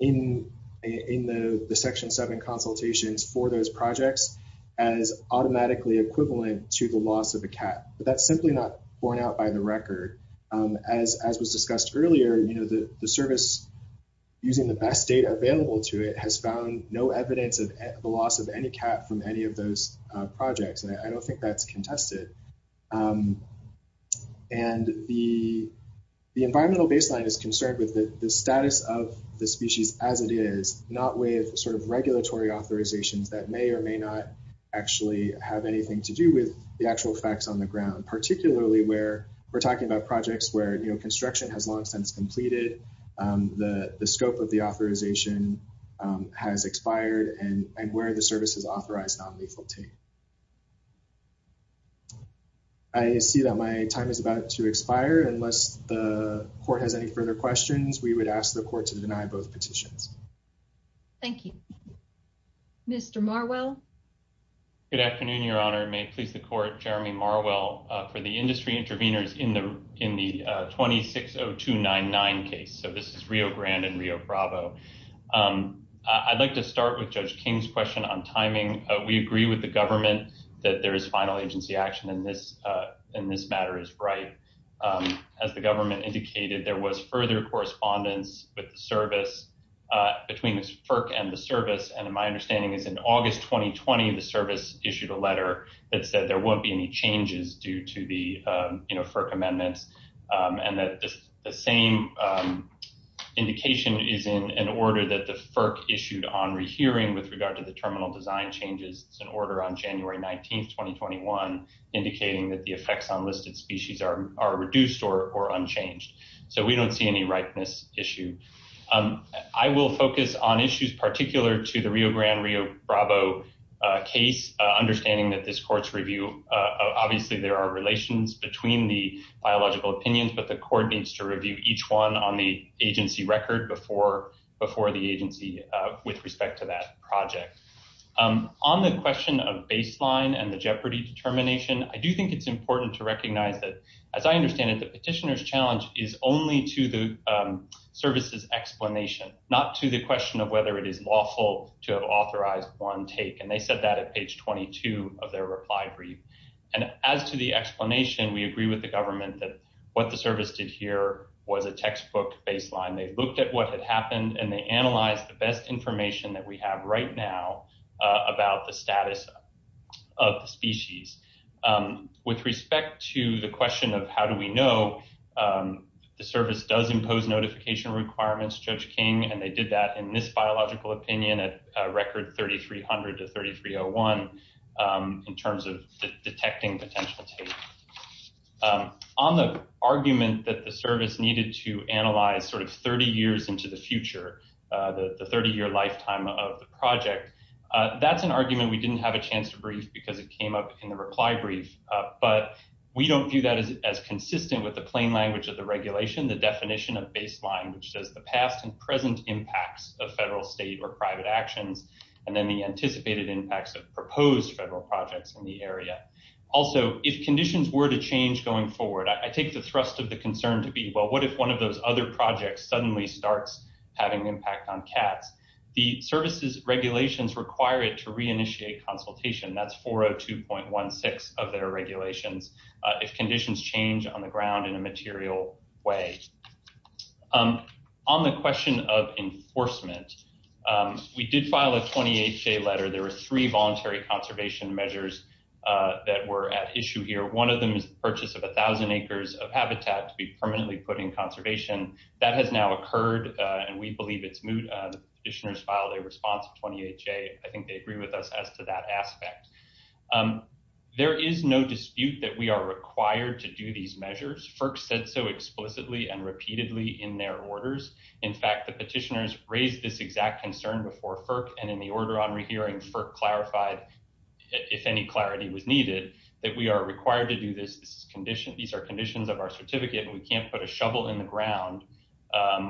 in the Section 7 consultations for those projects as automatically equivalent to the loss of a cat. But that's simply not borne out by the record. As was discussed earlier, you know, the service using the best data available to it has found no evidence of the loss of any cat from any of those projects. And I don't think that's contested. And the environmental baseline is concerned with the status of the species as it is, not with sort of regulatory authorizations that may or may not actually have anything to do with the actual effects on the ground, particularly where we're talking about projects where, you know, construction has long since completed, the scope of the authorization has expired, and where the service has authorized non-lethal tape. I see that my time is about to expire. Unless the court has any further questions, we would ask the court to deny both petitions. Thank you. Mr. Marwell? Good afternoon, Your Honor. May it please the court, Jeremy Marwell, for the industry interveners in the 260299 case. So this is Rio Grande and Rio Bravo. I'd like to start with Judge King's question on timing. We agree with the government that there is final agency action, and this matter is right. As the government indicated, there was further correspondence with the service between FERC and the service, and my understanding is in August 2020, the service issued a letter that said there won't be any changes due to the, you know, FERC amendments, and that the same indication is in an order that the FERC issued on rehearing with regard to the terminal design changes. It's an order on January 19, 2021, indicating that the effects on listed species are reduced or unchanged. So we don't see any ripeness issue. I will focus on issues particular to the Rio Grande, Rio Bravo case, understanding that this court's review, obviously there are relations between the biological opinions, but the court needs to review each one on the agency record before the agency with respect to that project. On the question of baseline and the jeopardy determination, I do think it's important to recognize that, as I understand it, the petitioner's challenge is only to the service's explanation, not to the question of whether it is lawful to have authorized one take, and they said that at page 22 of their reply brief. And as to the explanation, we agree with the government that what the service did here was a textbook baseline. They looked at what had happened, and they analyzed the best information that we have right now about the status of the species. With respect to the question of how do we know, the service does impose notification requirements, Judge King, and they did that in this biological opinion at record 3300 to 3301 in terms of detecting potential take. On the argument that the service needed to analyze sort of 30 years into the future, the 30-year lifetime of the project, that's an argument we didn't have a chance to brief because it came up in the reply brief, but we don't view that as consistent with the plain language of the regulation, the definition of baseline, which says the past and present impacts of federal, state, or private actions, and then the anticipated impacts of proposed federal projects in the area. Also, if conditions were to change going forward, I take the thrust of the concern to be, well, what if one of those other projects suddenly starts having impact on cats? The service's regulations require it to reinitiate consultation. That's 402.16 of their regulations. If conditions change on the ground in a material way. On the question of enforcement, we did file a 20HA letter. There were three voluntary conservation measures that were at issue here. One of them is the purchase of a thousand acres of habitat to be permanently put in conservation. That has now occurred, and we believe it's moot. The petitioners filed a response of 20HA. I think they agree with us as to that aspect. There is no dispute that we are required to do these measures. FERC said so explicitly and repeatedly in their orders. In fact, the petitioners raised this exact concern before FERC, and in the order on rehearing, FERC clarified, if any clarity was needed, that we are required to do this. These are conditions of our certificate, and we can't put a shovel in the ground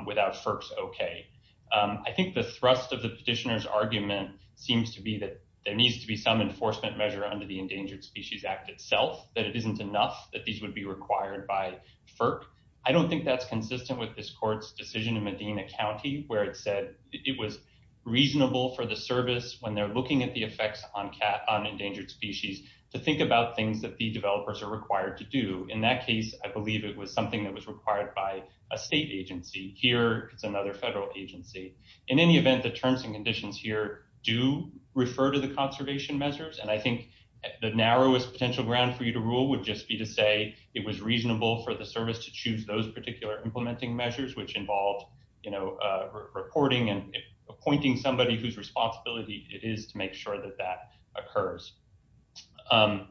without FERC's okay. I think the thrust of the petitioner's argument seems to be that there needs to be some enforcement measure under the Endangered Species Act itself, that it isn't enough, that these would be required by FERC. I don't think that's consistent with this court's decision in Medina County, where it said it was reasonable for the service, when they're looking at the effects on endangered species, to think about things that the developers are required to do. In that case, I believe it was something that was required by a state agency. Here, it's another federal agency. In any event, the terms and conditions here do refer to the conservation measures, and I think the narrowest potential ground for you to rule would just be to say it was reasonable for the service to choose those particular implementing measures, which involved reporting and appointing somebody whose responsibility it is to make sure that that occurs. On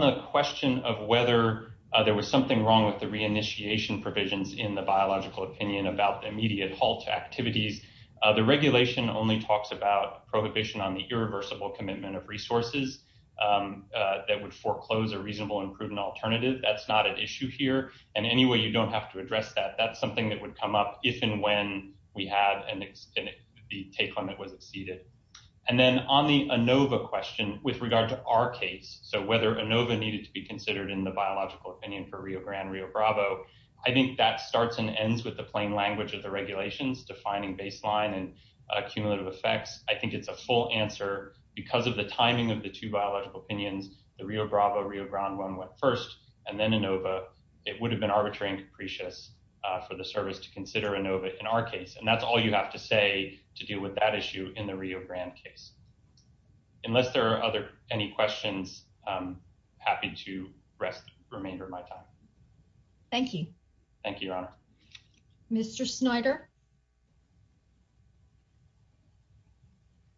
the question of whether there was something wrong with the reinitiation provisions in the biological opinion about the immediate halt activities, the regulation only talks about prohibition on the irreversible commitment of resources that would foreclose a reasonable and prudent alternative. That's not an issue here, and anyway, you don't have to address that. That's something that would come up if and when we had, and the take on it was exceeded. And then on the ANOVA question, with regard to our case, so whether ANOVA needed to be considered in the biological opinion for Rio Grande, Rio Bravo, I think that starts and ends with the plain language of the regulations defining baseline and accumulative effects. I think it's a full answer because of the timing of the two biological opinions, the Rio Bravo, Rio Grande one went first, and then ANOVA, it would have been arbitrary and capricious for the service to consider ANOVA in our case, and that's all you have to say to deal with that issue in the Rio Grande case. Unless there are other, any questions, I'm happy to rest the remainder of my time. Thank you. Thank you, Your Honor. Mr. Snyder.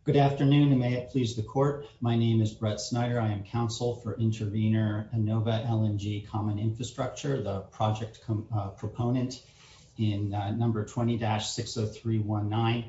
Good afternoon, and may it please the court. My name is Brett Snyder. I am counsel for intervener ANOVA LNG Common Infrastructure, the project proponent in number 20-60319.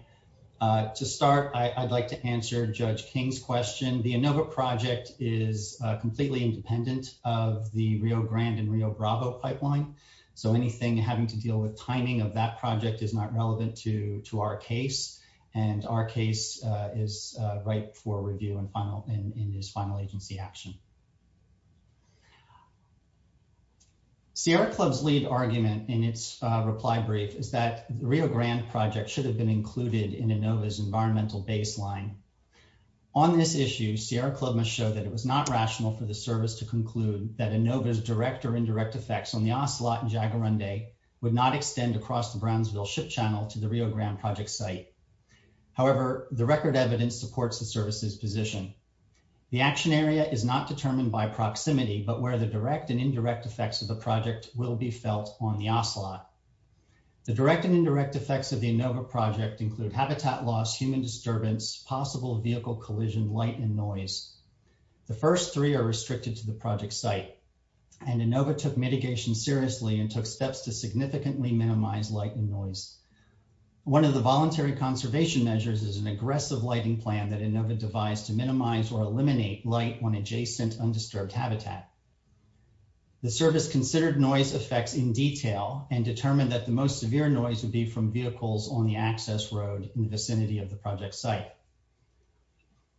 To start, I'd like to answer Judge King's question. The ANOVA project is completely independent of the Rio Grande and Rio Bravo pipeline, so anything having to deal with timing of that project is not relevant to our case, and our case is ripe for review and final, in this final agency action. Sierra Club's lead argument in its reply brief is that the Rio Grande project should have been included in ANOVA's environmental baseline. On this issue, Sierra Club must show that it was not rational for the service to conclude that ANOVA's direct or indirect effects on the Ocelot and Jaguarundi would not extend across the Brownsville Ship Channel to the Rio Grande project site. However, the record evidence supports the service's position. The action area is not determined by proximity, but where the direct and indirect effects of the project will be felt on the Ocelot. The direct and indirect effects of the ANOVA project include habitat loss, human disturbance, possible vehicle collision, light, and noise. The first three are restricted to the project site, and ANOVA took mitigation seriously and took steps to significantly minimize light and noise. One of the voluntary conservation measures is an aggressive lighting plan that ANOVA devised to minimize or eliminate light on adjacent undisturbed habitat. The service considered noise effects in detail and determined that the most severe noise would be from vehicles on the access road in the vicinity of the project site.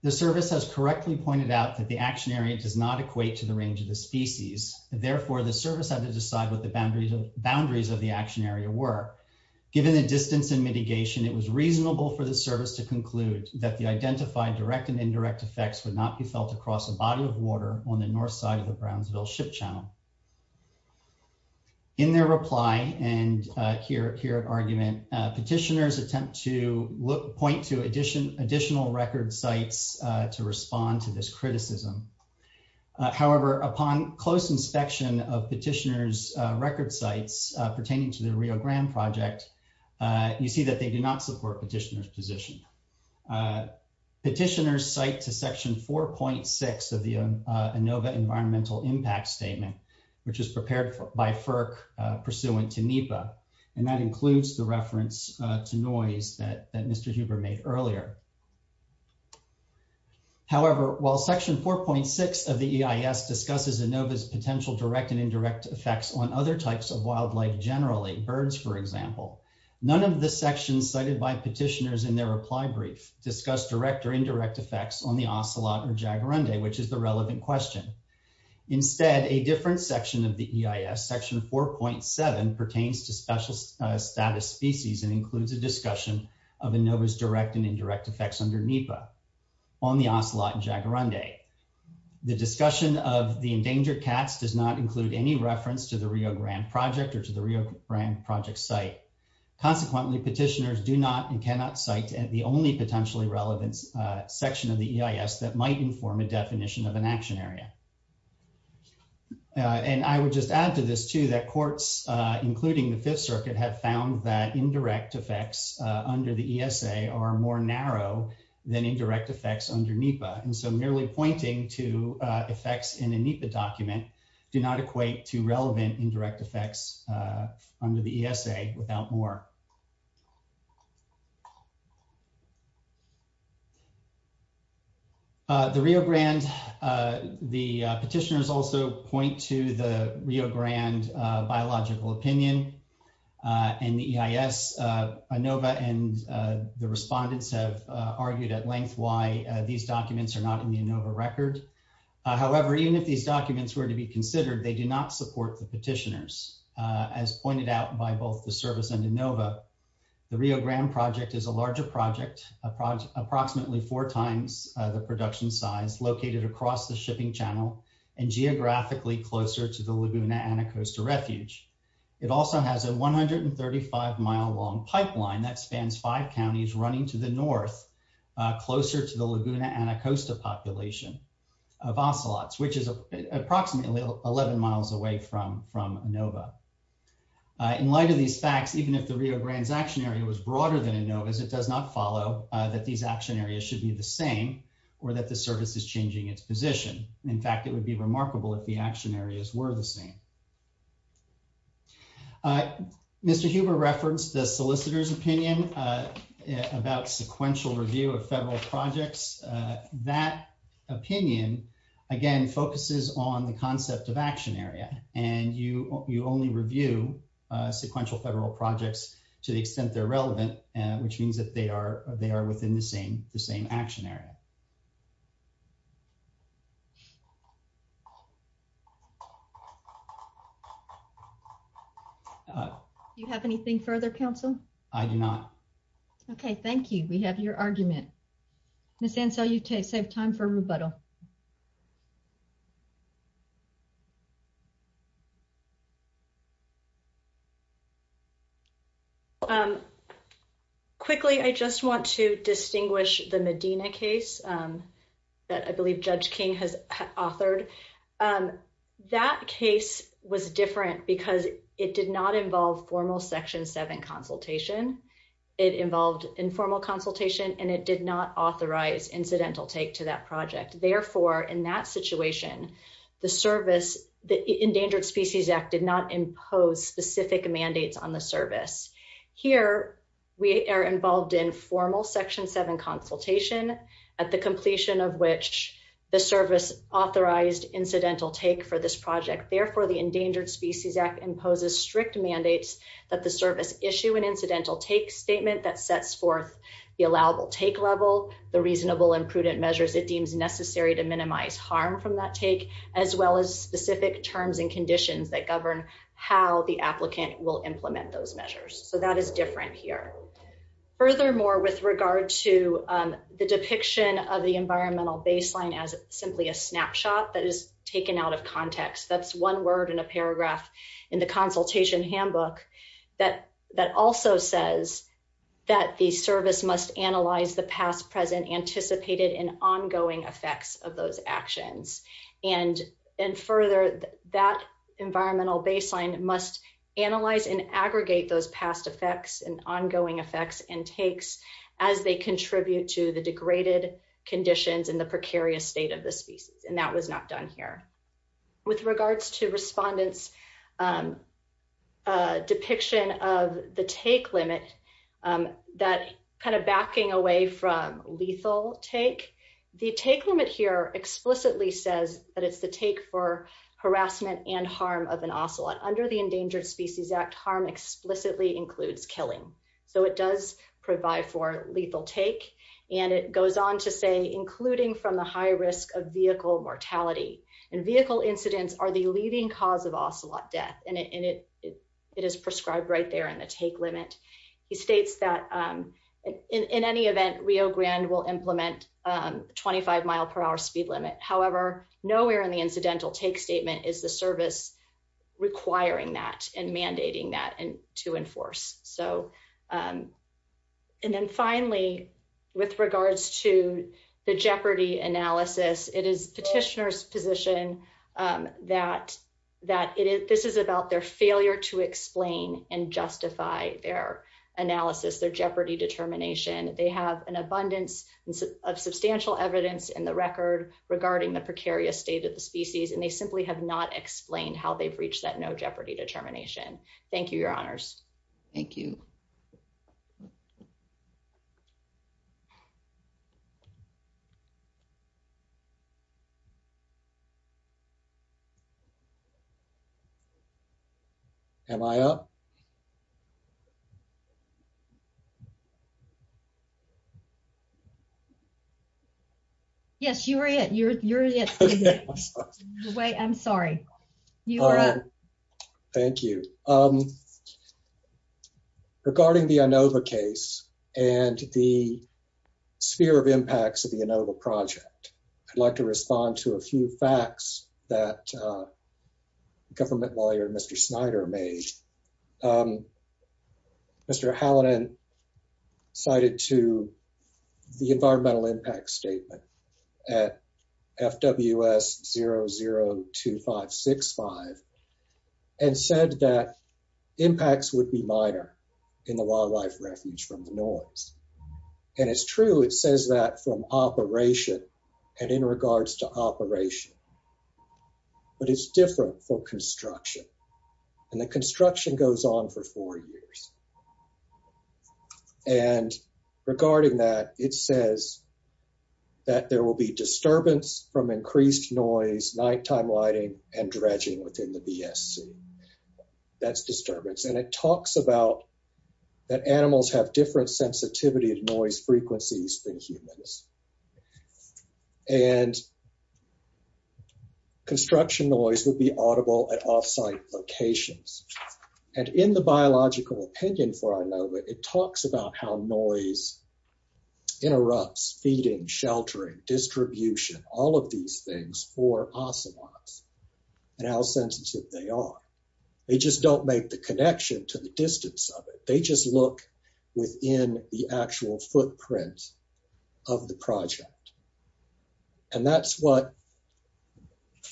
The service has correctly pointed out that the action area does not equate to the range of the species. Therefore, the service had to decide what the boundaries of the action area were. Given the distance and mitigation, it was reasonable for the service to conclude that the identified direct and indirect effects would not be felt across a body of water on the north side of the Brownsville ship channel. In their reply, and here at argument, petitioners attempt to point to additional record sites to respond to this criticism. However, upon close inspection of petitioners' record sites pertaining to the Rio Grande project, you see that they do not support petitioners' position. Petitioners cite to section 4.6 of the ANOVA environmental impact statement, which is prepared by FERC pursuant to NEPA, and that includes the reference to noise that Mr. Huber made earlier. However, while section 4.6 of the EIS discusses ANOVA's potential direct and indirect effects on other types of wildlife generally, birds for example, none of the cited by petitioners in their reply brief discuss direct or indirect effects on the ocelot or jaguarundi, which is the relevant question. Instead, a different section of the EIS, section 4.7, pertains to special status species and includes a discussion of ANOVA's direct and indirect effects under NEPA on the ocelot and jaguarundi. The discussion of the endangered cats does not include any reference to the Rio Grande project or to the Rio Grande project site. Consequently, petitioners do not and cannot cite the only potentially relevant section of the EIS that might inform a definition of an action area. And I would just add to this too that courts, including the Fifth Circuit, have found that indirect effects under the ESA are more narrow than indirect effects under NEPA, and so merely pointing to effects in a NEPA document do not equate to relevant indirect effects under the ESA without more. The Rio Grande, the petitioners also point to the Rio Grande biological opinion and the EIS, ANOVA and the respondents have argued at length why these documents are not on the ANOVA record. However, even if these documents were to be considered, they do not support the petitioners. As pointed out by both the service and ANOVA, the Rio Grande project is a larger project, approximately four times the production size, located across the shipping channel and geographically closer to the Laguna Anacosta refuge. It also has a 135-mile-long pipeline that of ocelots, which is approximately 11 miles away from ANOVA. In light of these facts, even if the Rio Grande's action area was broader than ANOVA's, it does not follow that these action areas should be the same or that the service is changing its position. In fact, it would be remarkable if the action areas were the same. Mr. Huber referenced the solicitor's opinion about sequential review of federal projects. That opinion, again, focuses on the concept of action area and you only review sequential federal projects to the extent they're relevant, which means that they are within the same action area. Do you have anything further, counsel? I do not. Okay, thank you. We have your argument. Ms. Ansell, you've saved time for rebuttal. Quickly, I just want to distinguish the Medina case that I believe Judge King has authored. That case was different because it did not involve formal Section 7 consultation. It involved informal consultation and it did not authorize incidental take to that project. Therefore, in that situation, the Endangered Species Act did not impose specific mandates on the service. Here, we are involved in formal Section 7 consultation at the completion of which the service authorized incidental take for this project. Therefore, the Endangered Species Act imposes strict mandates that the service issue an incidental take statement that sets forth the allowable take level, the reasonable and prudent measures it deems necessary to minimize harm from that take, as well as specific terms and conditions that govern how the applicant will implement those measures. That is different here. Furthermore, with regard to the depiction of the environmental baseline as simply a snapshot that is taken out of context, that's one word in the consultation handbook that also says that the service must analyze the past, present, anticipated, and ongoing effects of those actions. Further, that environmental baseline must analyze and aggregate those past effects and ongoing effects and takes as they contribute to the degraded conditions and the precarious state of the species. That was not done here. With regards to respondents' depiction of the take limit, that kind of backing away from lethal take, the take limit here explicitly says that it's the take for harassment and harm of an ocelot. Under the Endangered Species Act, harm explicitly includes killing. So it does provide for lethal take, and it goes on to say, including from the high risk of vehicle mortality. Vehicle incidents are the leading cause of ocelot death. It is prescribed right there in the take limit. He states that in any event, Rio Grande will implement a 25-mile-per-hour speed limit. However, nowhere in the incidental take statement is the service requiring that and mandating that to enforce. And then finally, with regards to the jeopardy analysis, it is petitioner's position that this is about their failure to explain and justify their analysis, their jeopardy determination. They have an abundance of substantial evidence in the record regarding the precarious state of the species, and they simply have not explained how they've reached that no jeopardy determination. Thank you, Your Honors. Thank you. Am I up? Yes, you're it. You're it. I'm sorry. You're up. Thank you. Regarding the Inova case and the sphere of impacts of the Inova project, I'd like to respond to a few facts that government lawyer Mr. Snyder made. Mr. Halladin cited to the environmental impact statement at FWS002565 and said that impacts would be minor in the wildlife refuge from the noise. And it's true, it says that from operation and in regards to operation, but it's different for construction. And the construction goes on for four years. And regarding that, it says that there will be disturbance from increased noise, nighttime lighting, and dredging within the BSC. That's disturbance. And it talks about that animals have different sensitivity to noise frequencies than humans. And construction noise will be audible at off-site locations. And in the biological opinion for Inova, it talks about how noise interrupts feeding, sheltering, distribution, all of these things for ocelots and how sensitive they are. They just don't make the connection to the distance of it. They just look within the actual footprint of the project. And that's what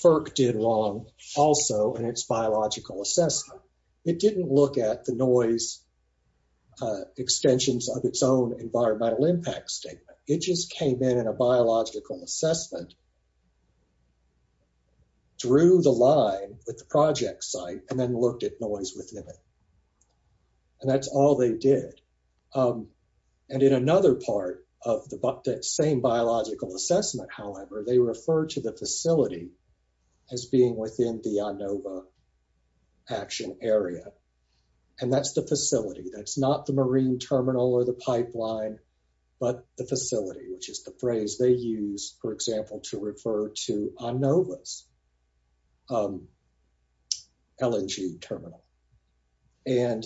FERC did wrong also in its biological assessment. It didn't look at the noise extensions of its own environmental impact statement. It just came in in a biological assessment and drew the line with the project site and then looked at noise within it. And that's all they did. And in another part of the same biological assessment, however, they refer to the facility as being within the Inova action area. And that's the facility. That's not the marine terminal or the pipeline, but the facility, which is the phrase they use, for example, to refer to Inova's LNG terminal. And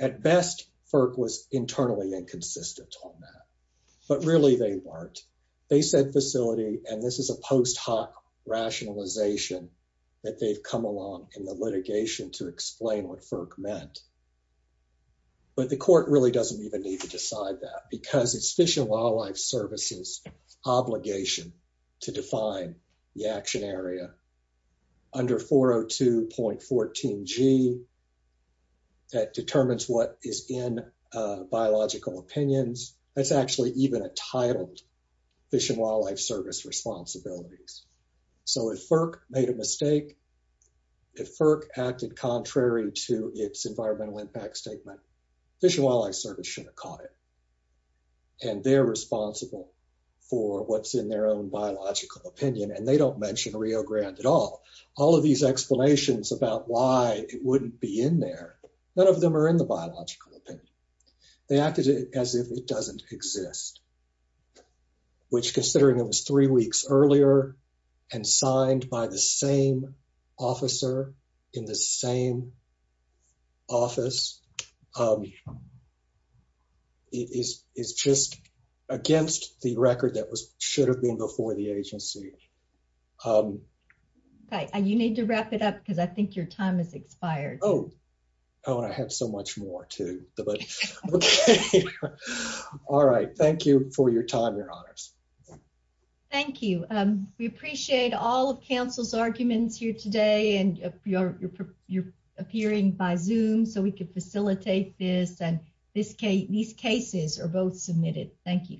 at best, FERC was internally inconsistent on that, but really they weren't. They said facility, and this is a post hoc rationalization that they've come along in the litigation to explain what FERC meant. But the court really doesn't even need to to define the action area under 402.14g that determines what is in biological opinions. That's actually even entitled Fish and Wildlife Service responsibilities. So if FERC made a mistake, if FERC acted contrary to its environmental impact statement, Fish and Wildlife Service should have caught it. And they're responsible for what's in their own biological opinion, and they don't mention Rio Grande at all. All of these explanations about why it wouldn't be in there, none of them are in the biological opinion. They acted as if it doesn't exist, which considering it was three weeks earlier and signed by the same officer in the same office, is just against the record that should have been before the agency. Okay, you need to wrap it up because I think your time has expired. Oh, and I have so much more too. All right, thank you for your time, your honors. Thank you. We appreciate all of council's arguments here today, and you're appearing by Zoom so we could facilitate this. These cases are both submitted. Thank you.